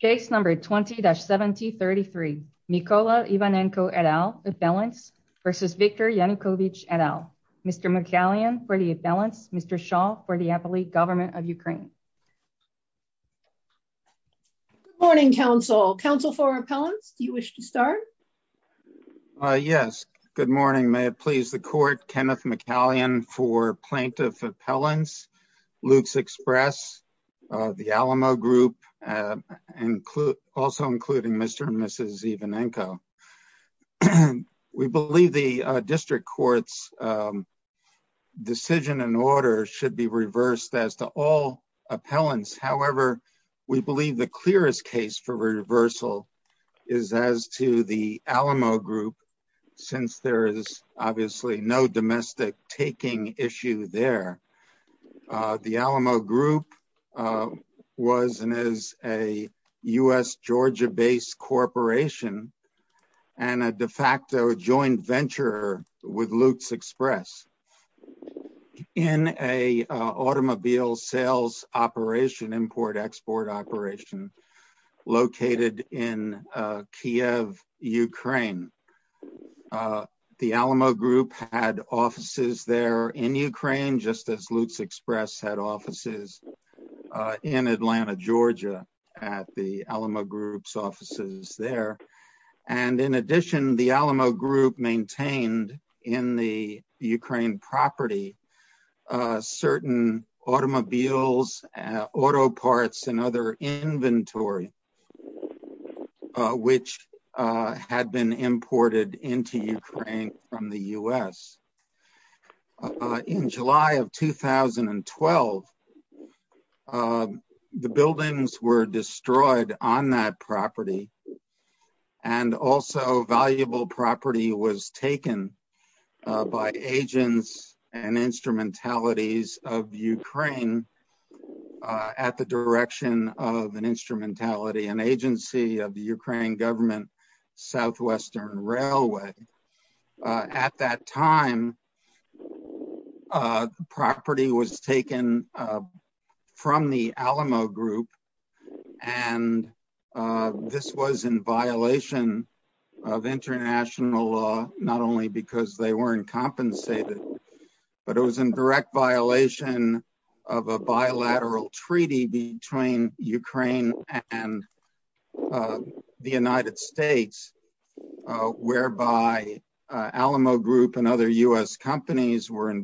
case number 20-7033. Mykola Ivanenko et al. appellants versus Viktor Yanukovich et al. Mr. McCallion for the appellants, Mr. Shaw for the appellate government of Ukraine. Good morning, counsel. Counsel for appellants, do you wish to start? Yes, good morning. May it please the court. Kenneth McCallion for plaintiff appellants, Luke's Express, the Alamo group, also including Mr. and Mrs. Ivanenko. We believe the district court's decision and order should be reversed as to all appellants. However, we believe the clearest case for reversal is as to the Alamo group, since there is obviously no domestic taking issue there. The Alamo group was and is a U.S.-Georgia-based corporation and a de facto joint venture with Luke's Express in a automobile sales operation, import-export operation, located in Kyiv, Ukraine. The Alamo group had offices there in Ukraine, just as Luke's Express had offices in Atlanta, Georgia, at the Alamo group's offices there. In addition, the Alamo group maintained in the Ukraine property certain automobiles, auto parts, and other inventory, which had been imported into Ukraine from the U.S. In July of 2012, the buildings were destroyed on that property. Also, valuable property was taken by agents and instrumentalities of Ukraine at the direction of an instrumentality, an agency of the Ukraine government, Southwestern Railway. At that time, the property was taken from the Alamo group. This was in violation of international law, not only because they weren't compensated, but it was in direct violation of a bilateral treaty between Ukraine and the United States, whereby the Alamo group and other U.S. companies were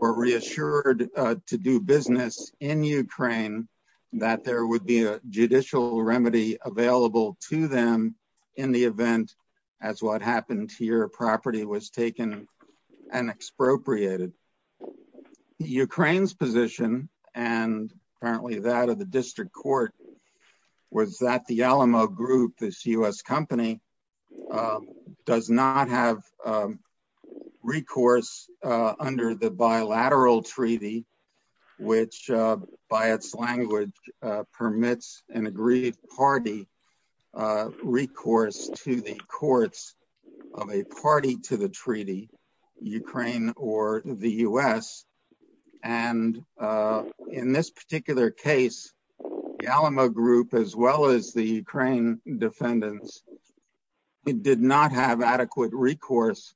reassured to do business in Ukraine, that there would be a judicial remedy available to them in the event that what happened to your property was taken and expropriated. The Ukraine's position, and apparently that of the district court, was that the Alamo group, this U.S. company, does not have recourse under the bilateral treaty, which, by its language, permits an agreed party recourse to the courts of a party to the treaty, Ukraine or the U.S. In this particular case, the Alamo group, as well as the Ukraine defendants, did not have adequate recourse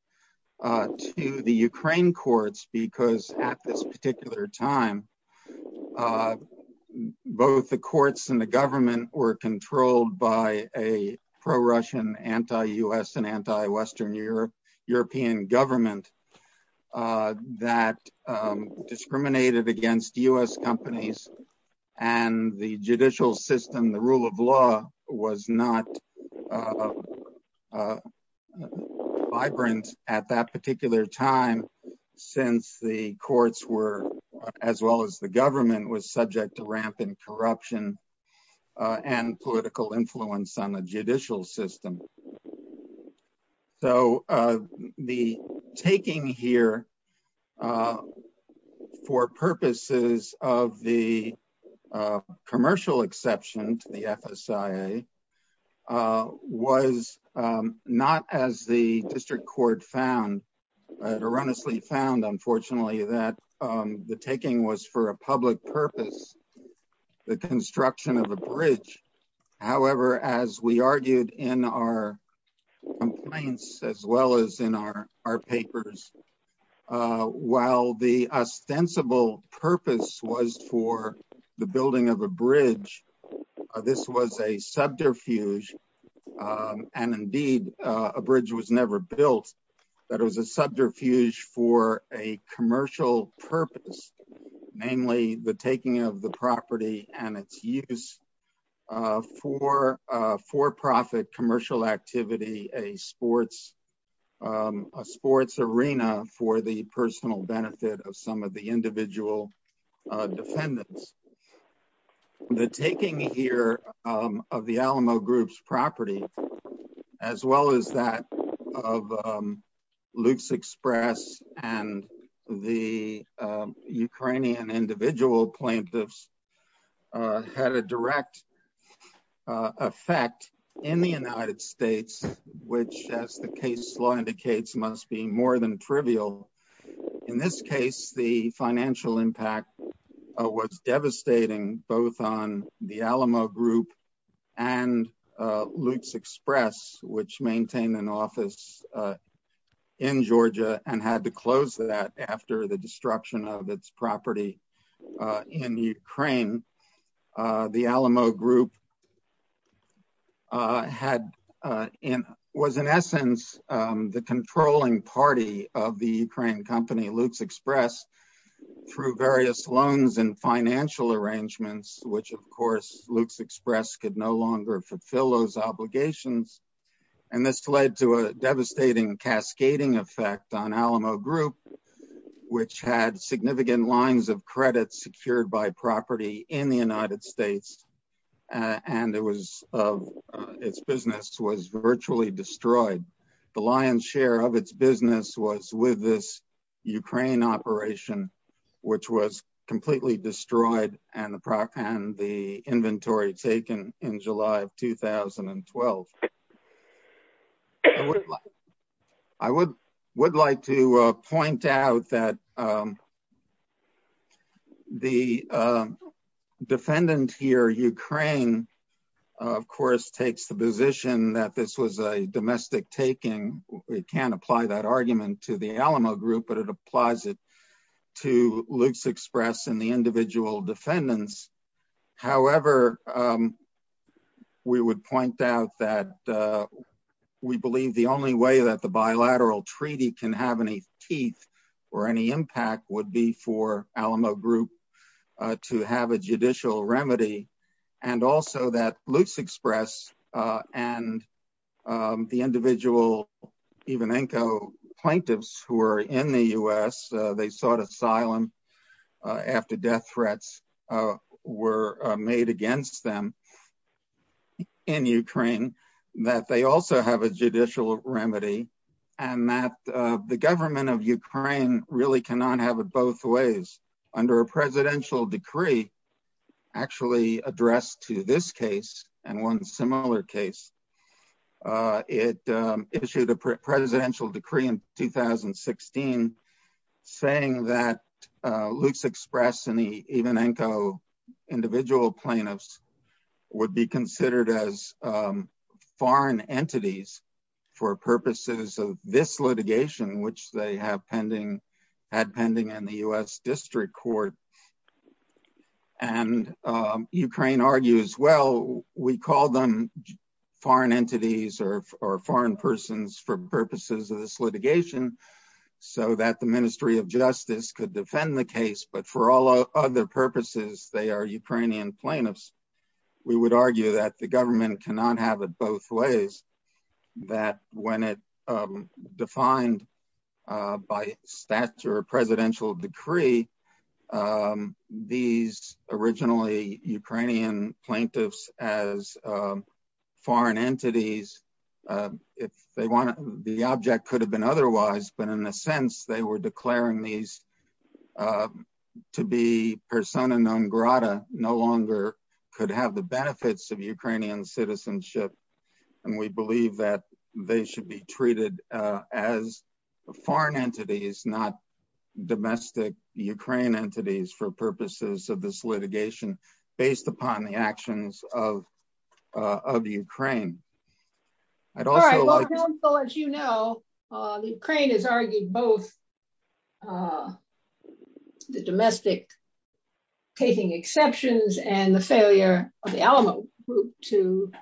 to the Ukraine courts because at this particular time, both the courts and the government were controlled by a pro-Russian, anti-U.S., and anti-Western European government that discriminated against U.S. companies, and the judicial system, the rule of law, was not as vibrant at that particular time, since the courts, as well as the government, were subject to rampant corruption and political influence on the judicial system. So, the taking here for purposes of the commercial exception to the FSIA was not as the district court found. It erroneously found, unfortunately, that the taking was for a public purpose, the construction of a bridge. However, as we argued in our complaints, as well as in our papers, while the ostensible purpose was for the building of a subterfuge, and indeed a bridge was never built, that it was a subterfuge for a commercial purpose, namely the taking of the property and its use for for-profit commercial activity, a sports arena for the personal benefit of some of the individual defendants. The taking here of the Alamo Group's property, as well as that of Luke's Express and the Ukrainian individual plaintiffs, had a direct effect in the United States, which, as the case law indicates, must be and Luke's Express, which maintained an office in Georgia and had to close that after the destruction of its property in Ukraine. The Alamo Group was, in essence, the controlling party of the Ukrainian company Luke's Express, through various loans and financial arrangements, which, of course, Luke's Express could no longer fulfill those obligations, and this led to a devastating cascading effect on Alamo Group, which had significant lines of credit secured by property in the United States, and its business was virtually destroyed. The lion's share of its business was with this Ukraine operation, which was and the inventory taken in July of 2012. I would like to point out that the defendant here, Ukraine, of course, takes the position that this was a domestic taking. We can't apply that argument to the Alamo Group, but it applies it Luke's Express and the individual defendants. However, we would point out that we believe the only way that the bilateral treaty can have any teeth or any impact would be for Alamo Group to have a judicial remedy, and also that Luke's Express and the individual Evenenko plaintiffs who were in the U.S., they sought asylum after death threats were made against them in Ukraine, that they also have a judicial remedy, and that the government of Ukraine really cannot have it both ways. Under a presidential decree actually addressed to this case and one similar case, it issued a presidential decree in 2016 saying that Luke's Express and the Evenenko individual plaintiffs would be considered as foreign entities for purposes of this litigation, which they had pending in the U.S. District Court. And Ukraine argues, well, we call them foreign entities or foreign persons for purposes of this litigation so that the Ministry of Justice could defend the case, but for all other purposes, they are Ukrainian plaintiffs. We would argue that the government cannot have it both ways, that when it defined by statute or a presidential decree, these originally Ukrainian plaintiffs as foreign entities, the object could have been otherwise, but in a sense, they were declaring these to be persona non grata, no longer could have the benefits of they should be treated as foreign entities, not domestic Ukraine entities for purposes of this litigation based upon the actions of Ukraine. As you know, Ukraine has argued both the domestic taking exceptions and the failure of the Alamo group to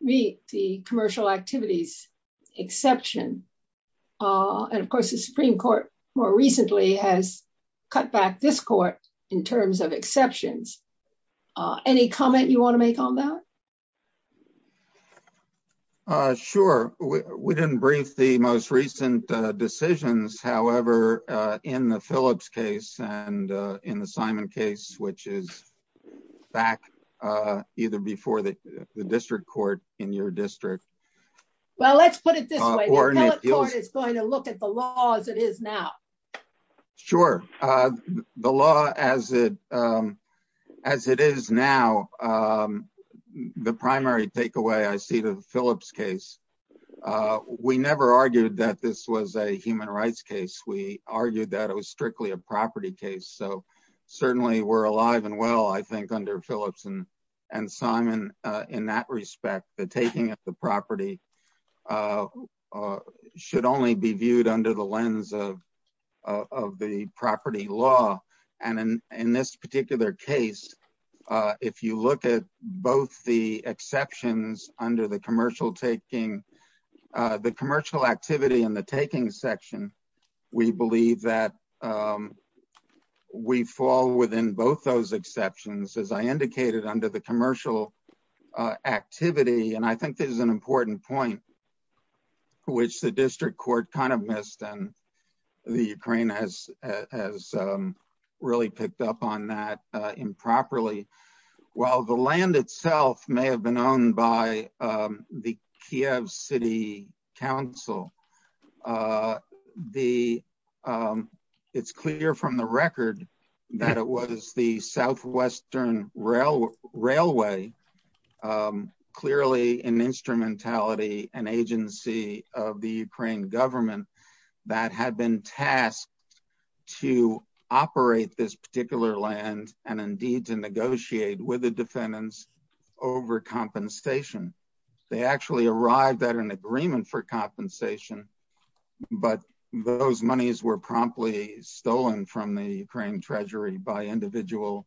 meet the commercial activities exception. And of course, the Supreme Court more recently has cut back this court in terms of exceptions. Any comment you want to make on that? Sure. We didn't brief the most recent decisions, however, in the Phillips case and in the Simon case, which is back either before the district court in your district. Well, let's put it this way, the court is going to look at the law as it is now. Sure. The law as it is now, the primary takeaway I see the Phillips case, we never argued that this was a human rights case, we argued that it was strictly a property case. So certainly we're alive and well, I think under Phillips and Simon, in that respect, the taking of the property should only be viewed under the lens of the property law. And in this particular case, if you look at both the exceptions under the commercial taking, the commercial activity and the taking section, we believe that we fall within both those activities. And I think this is an important point, which the district court kind of missed and the Ukraine has really picked up on that improperly. While the land itself may have been owned by the Kiev City Council, it's clear from the record that it was the Southwestern Railway clearly an instrumentality, an agency of the Ukraine government that had been tasked to operate this particular land and indeed to negotiate with the defendants over compensation. They actually arrived at an agreement for compensation, but those monies were promptly stolen from the Ukraine Treasury by individual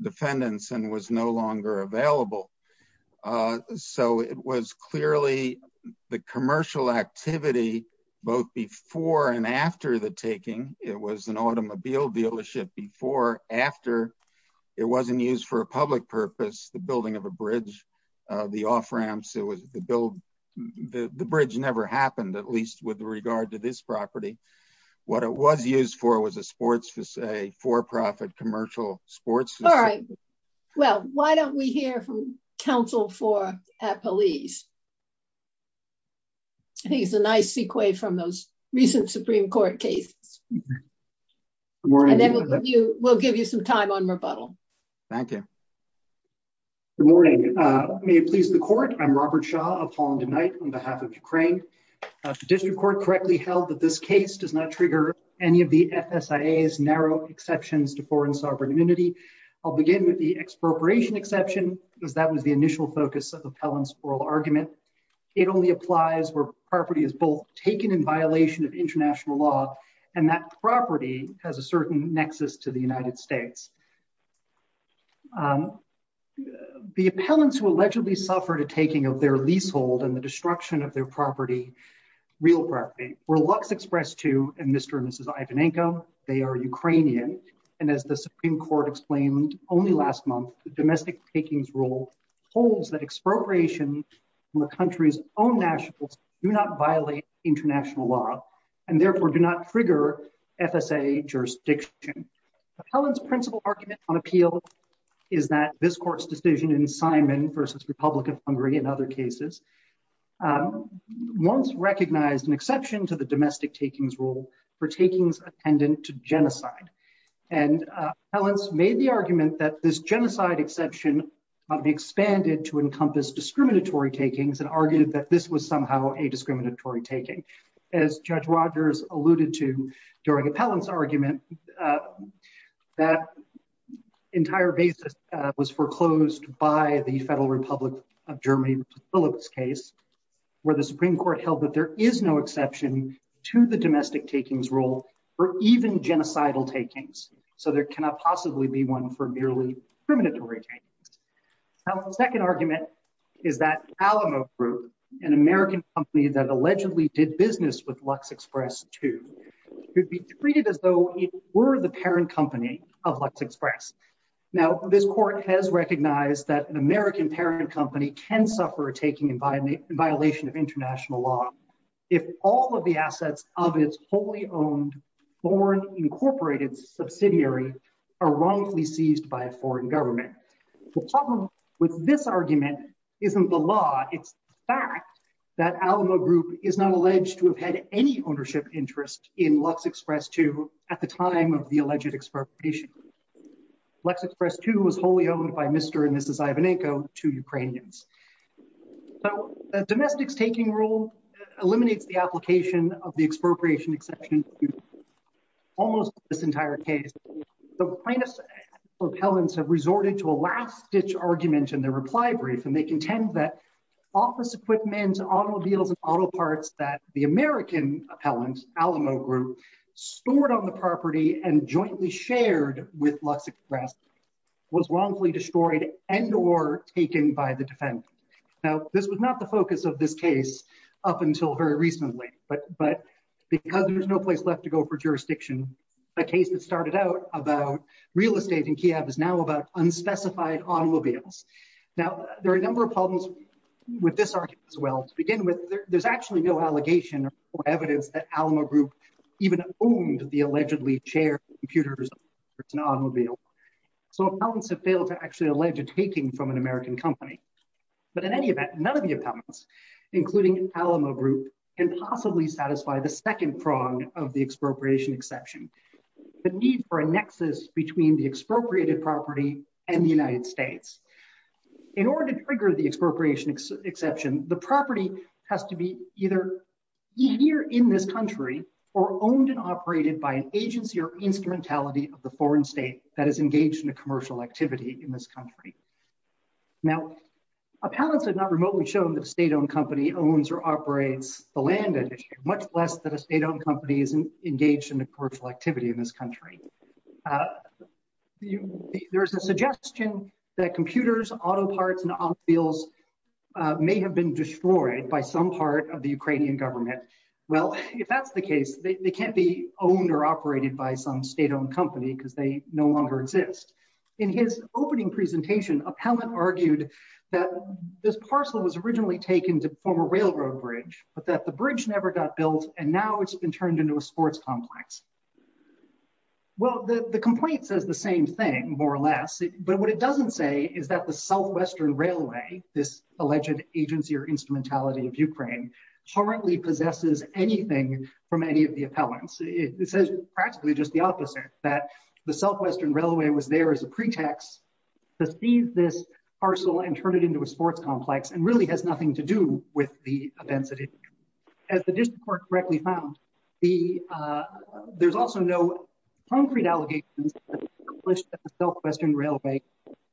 defendants and was no longer available. So it was clearly the commercial activity, both before and after the taking. It was an automobile dealership before, after. It wasn't used for a public purpose, the building of a bridge, the off-ramps. The bridge never happened, at least with regard to this property. What it was used for was a for-profit commercial sports. All right. Well, why don't we hear from counsel for police? I think it's a nice sequoia from those recent Supreme Court cases. And then we'll give you some time on rebuttal. Thank you. Good morning. May it please the court. I'm Robert Shaw of Holland and Knight on behalf of Ukraine. The district court correctly held that this case does not trigger any of the FSIA's narrow exceptions to foreign sovereign immunity. I'll begin with the expropriation exception, because that was the initial focus of the appellant's oral argument. It only applies where property is both taken in violation of international law and that property has a certain nexus to the United States. The appellants who allegedly suffered a taking of their leasehold and the destruction of their And as the Supreme Court explained only last month, the domestic takings rule holds that expropriation from the country's own nationals do not violate international law and therefore do not trigger FSA jurisdiction. Appellant's principle argument on appeal is that this court's decision in Simon versus Republic of Hungary and other cases once recognized an exception to the domestic takings rule for takings attendant to genocide. And appellants made the argument that this genocide exception might be expanded to encompass discriminatory takings and argued that this was somehow a discriminatory taking. As Judge Rogers alluded to during appellant's argument, that entire basis was foreclosed by the Federal Republic of Germany Phillips case, where the Supreme Court held that there is no exception to the domestic takings rule for even genocidal takings. So there cannot possibly be one for merely discriminatory takings. Now, the second argument is that Alamo Group, an American company that allegedly did business with Lux Express 2, would be treated as though it were the parent company of Lux Express. Now, this court has recognized that an American parent company can suffer a taking violation of international law if all of the assets of its wholly owned foreign incorporated subsidiary are wrongfully seized by a foreign government. The problem with this argument isn't the law, it's the fact that Alamo Group is not alleged to have had any ownership interest in Lux Express 2 at the time of the alleged expropriation. Lux Express 2 was wholly owned by Mr. and Mrs. Ivanenko, two Ukrainians. So the domestics taking rule eliminates the application of the expropriation exception almost this entire case. The plaintiff's appellants have resorted to a last-ditch argument in their reply brief, and they contend that office equipment, automobiles, and auto parts that the American appellant, Alamo Group, stored on the property and jointly shared with Lux Express was wrongfully destroyed and or taken by the defendant. Now, this was not the focus of this case up until very recently, but because there's no place left to go for jurisdiction, the case that started out about real estate in Kyiv is now about unspecified automobiles. Now, there are a number of problems with this argument as well. To begin with, there's actually no allegation or evidence that Alamo Group even owned the property, so appellants have failed to actually allege a taking from an American company. But in any event, none of the appellants, including Alamo Group, can possibly satisfy the second prong of the expropriation exception, the need for a nexus between the expropriated property and the United States. In order to trigger the expropriation exception, the property has to be either here in this country or owned and operated by an agency or instrumentality of the foreign state that is engaged in a commercial activity in this country. Now, appellants have not remotely shown that a state-owned company owns or operates the land, much less that a state-owned company is engaged in a commercial activity in this country. There is a suggestion that computers, auto parts and automobiles may have been destroyed by some part of the Ukrainian government. Well, if that's the case, they can't be owned or operated by some state-owned company because they no longer exist. In his opening presentation, an appellant argued that this parcel was originally taken to form a railroad bridge, but that the bridge never got built and now it's been turned into a sports complex. Well, the complaint says the same thing, more or less, but what it doesn't say is that the Southwestern Railway, this alleged agency or instrumentality of Ukraine, currently possesses anything from any of the appellants. It says practically just the opposite, that the Southwestern Railway was there as a pretext to seize this parcel and turn it into a sports complex and really has nothing to do with the events that it did. As the district court correctly found, there's also no concrete allegations that the Southwestern Railway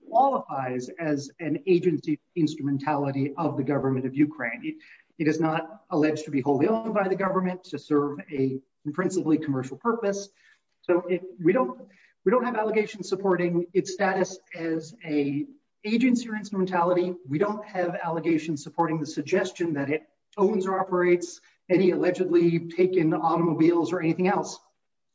qualifies as an agency instrumentality of the government of Ukraine. It is not alleged to be wholly owned by the government to serve a principally commercial purpose, so we don't have allegations supporting its status as an agency or instrumentality. We don't have allegations supporting the suggestion that it owns or operates any allegedly taken automobiles or anything else.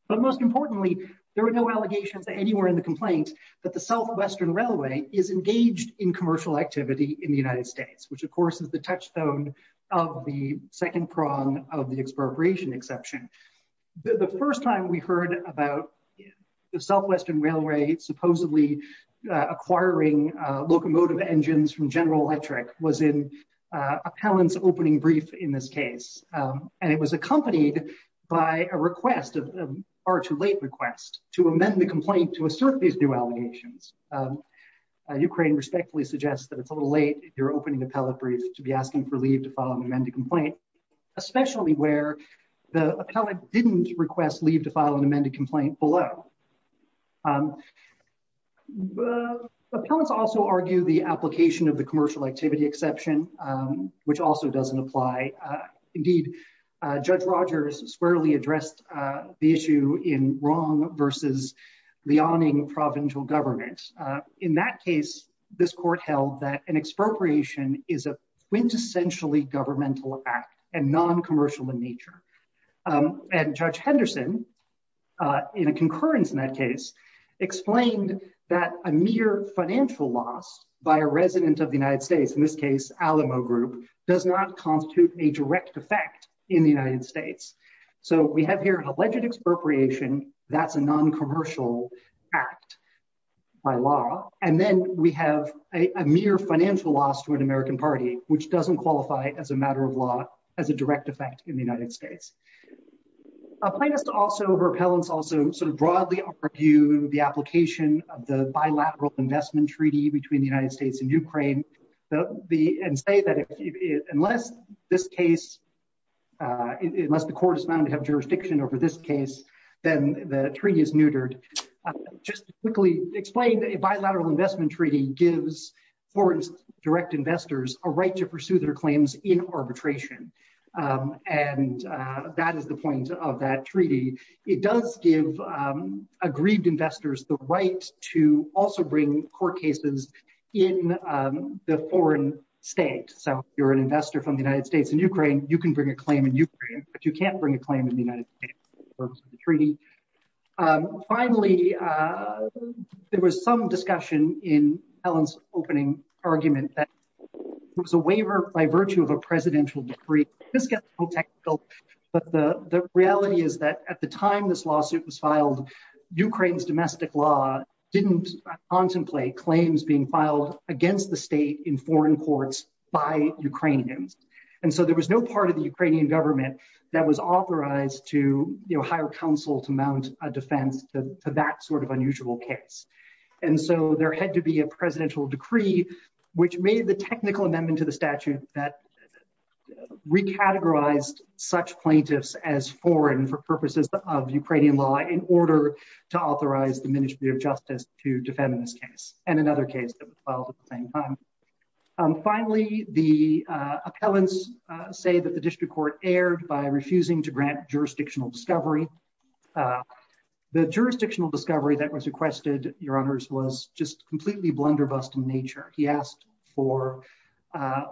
But most importantly, there are no allegations anywhere in the complaint that the Southwestern Railway is engaged in commercial activity in the United States, which of course is the touchstone of the second prong of the expropriation exception. The first time we heard about the Southwestern Railway supposedly acquiring locomotive engines from General Electric was in an appellant's opening brief in this case, and it was accompanied by a request, a far too late request, to amend the complaint to assert these new allegations. Ukraine respectfully suggests that it's a little late if you're opening an appellate brief to be asking for leave to file an amended complaint, especially where the appellant didn't request leave to file an amended complaint below. Appellants also argue the application of the commercial activity exception, which also doesn't apply. Indeed, Judge Rogers squarely addressed the issue in wrong versus the awning provincial government. In that case, this court held that an expropriation is a quintessentially governmental act and non-commercial in nature. And Judge Henderson, in a concurrence in that case, explained that a mere financial loss by a resident of the United States, in this case Alamo Group, does not constitute a direct effect in the United States. So we have here an alleged expropriation. That's a non-commercial act by law. And then we have a mere financial loss to an American party, which doesn't qualify as a matter of law as a direct effect in the United States. Appellants also sort of broadly argue the application of the bilateral investment treaty between the United States and Ukraine and say that unless the court is bound to have jurisdiction over this case, then the treaty is neutered. Just to quickly explain, a bilateral investment treaty gives foreign direct investors a right to pursue their claims in arbitration. And that is the point of that treaty. It does give aggrieved investors the right to also bring court cases in the foreign state. So if you're an investor from the United States and Ukraine, you can bring a claim in Ukraine, but you can't bring a claim in the United States for the purpose of the treaty. Finally, there was some discussion in Helen's opening argument that it was a waiver by virtue of a presidential decree. This gets a little technical, but the reality is that at the time this lawsuit was filed, Ukraine's domestic law didn't contemplate claims being filed against the state in foreign courts by Ukrainians. And so there was no part of the Ukrainian government that was authorized to hire counsel to mount a defense to that sort of unusual case. And so there had to be a presidential decree, which made the technical amendment to the categorized such plaintiffs as foreign for purposes of Ukrainian law in order to authorize the Ministry of Justice to defend this case and another case that was filed at the same time. Finally, the appellants say that the district court erred by refusing to grant jurisdictional discovery. The jurisdictional discovery that was requested, your honors, was just completely blunderbussed in nature. He asked for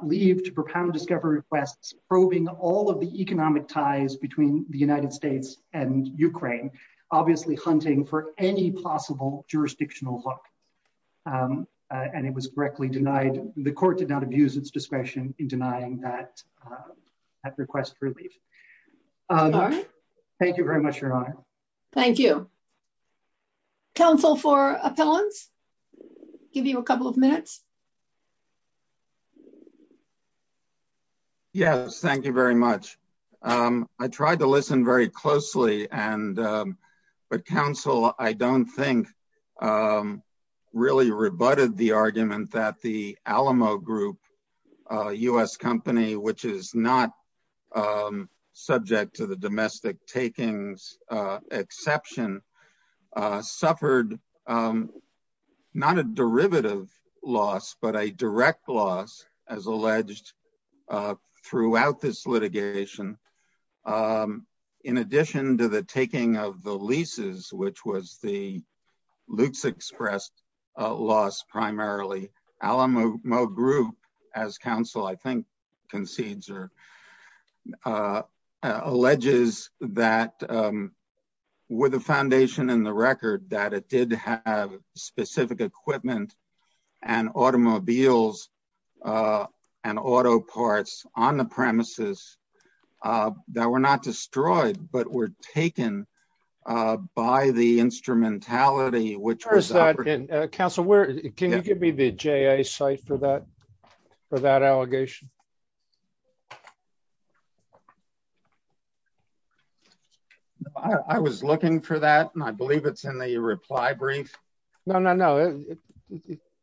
leave to propound discovery requests, probing all of the economic ties between the United States and Ukraine, obviously hunting for any possible jurisdictional hook. And it was correctly denied. The court did not abuse its discretion in denying that request for leave. Thank you very much, your honor. Thank you. Counsel for appellants, give you a couple of minutes. Yes, thank you very much. I tried to listen very closely and but counsel, I don't think really rebutted the argument that the Alamo Group, a U.S. company, which is not subject to the domestic takings exception, suffered not a derivative loss, but a direct loss, as alleged throughout this litigation. In addition to the taking of the leases, which was the Lutz expressed loss primarily, Alamo Group, as counsel, I think, concedes or alleges that with a foundation in the record that it did have specific equipment and automobiles and auto parts on the premises that were not destroyed, but were taken by the instrumentality, which was that in Council, where can you give me the J.A. site for that for that allegation? I was looking for that, and I believe it's in the reply brief. No, no, no.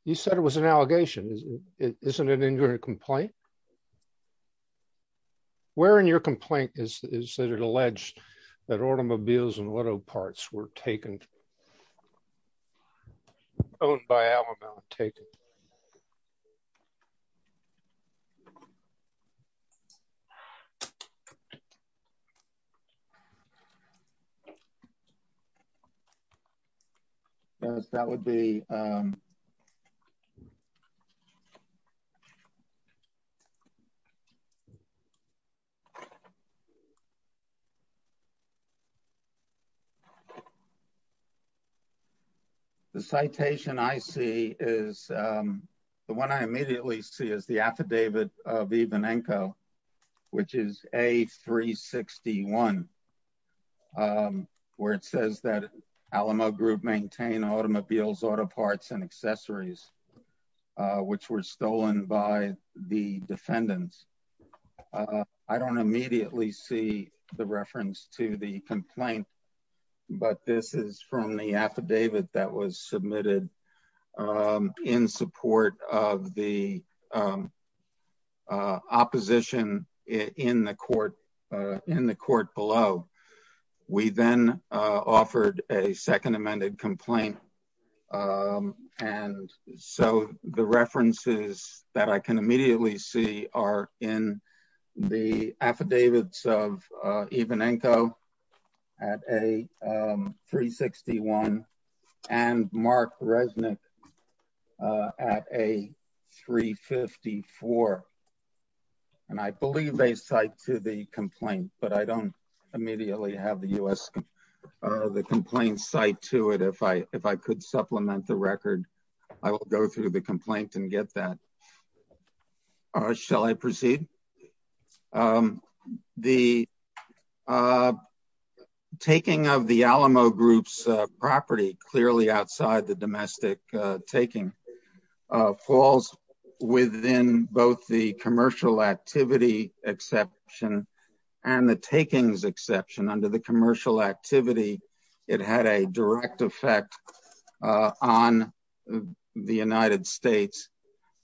You said it was an allegation. Isn't it in your complaint? Where in your complaint is that it alleged that automobiles and auto parts were taken? Owned by Alamo and taken. Yes, that would be. Um. The citation I see is the one I immediately see is the affidavit of Ivanenko, which is A361. Um, where it says that Alamo Group maintain automobiles, auto parts and accessories, which were stolen by the defendants. I don't immediately see the reference to the complaint, but this is from the affidavit that submitted in support of the opposition in the court in the court below. We then offered a second amended complaint. And so the references that I can immediately see are in the affidavits of Ivanenko at A361. And Mark Resnick at A354. And I believe they cite to the complaint, but I don't immediately have the U.S. The complaint site to it. If I if I could supplement the record, I will go through the complaint and get that. Shall I proceed? Um, the taking of the Alamo Group's property clearly outside the domestic taking falls within both the commercial activity exception and the takings exception. Under the commercial activity, it had a direct effect on the United States.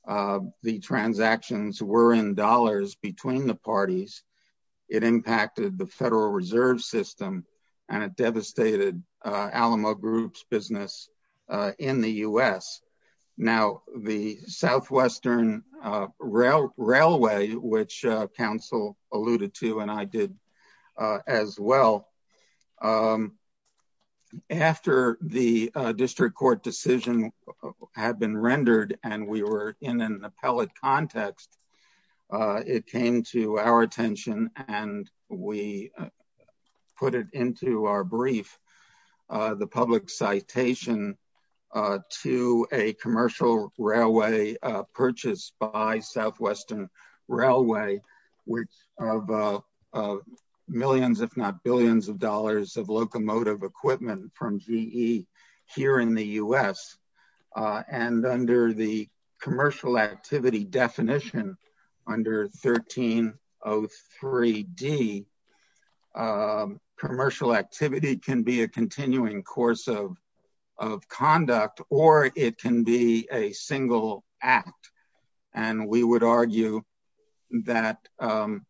Uh, the transactions were in dollars between the parties. It impacted the Federal Reserve System and it devastated Alamo Group's business in the U.S. Now, the Southwestern Railway, which counsel alluded to and I did as well. Um, after the district court decision had been rendered and we were in an appellate context, it came to our attention and we put it into our brief, the public citation to a commercial railway purchase by Southwestern Railway, which of millions, if not billions of dollars of locomotive equipment from GE here in the U.S. And under the commercial activity definition under 1303 D, commercial activity can be a continuing course of of conduct or it can be a single act. And we would argue that, um,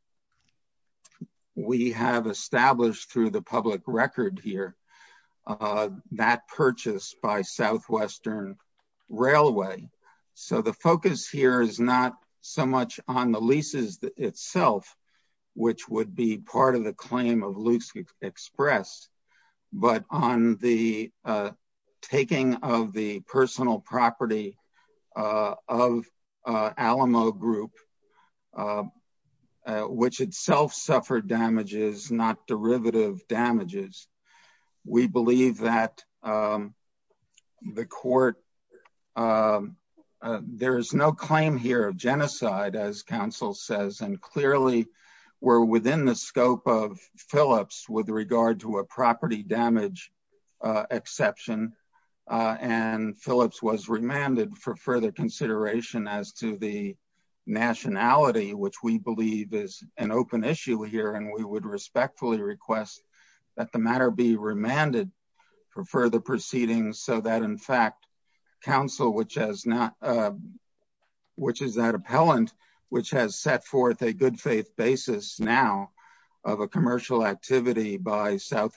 we have established through the public record here, uh, that purchase by Southwestern Railway. So the focus here is not so much on the leases itself, which would be part of the claim of Loose Express, but on the, uh, taking of the Alamo Group, uh, which itself suffered damages, not derivative damages. We believe that, um, the court, um, uh, there is no claim here of genocide, as counsel says, and clearly we're within the scope of Phillips with regard to a property damage, uh, exception. Uh, and as to the nationality, which we believe is an open issue here, and we would respectfully request that the matter be remanded for further proceedings so that in fact, counsel, which has not, uh, which is that appellant, which has set forth a good faith basis now of a commercial activity by on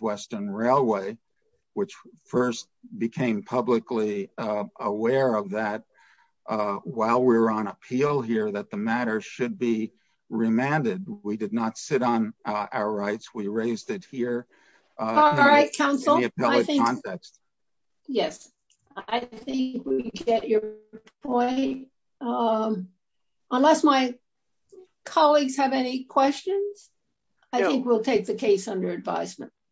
appeal here, that the matter should be remanded. We did not sit on our rights. We raised it here. Uh, all right, counsel. Yes, I think we get your point. Um, unless my colleagues have any questions, I think we'll take the case under advisement.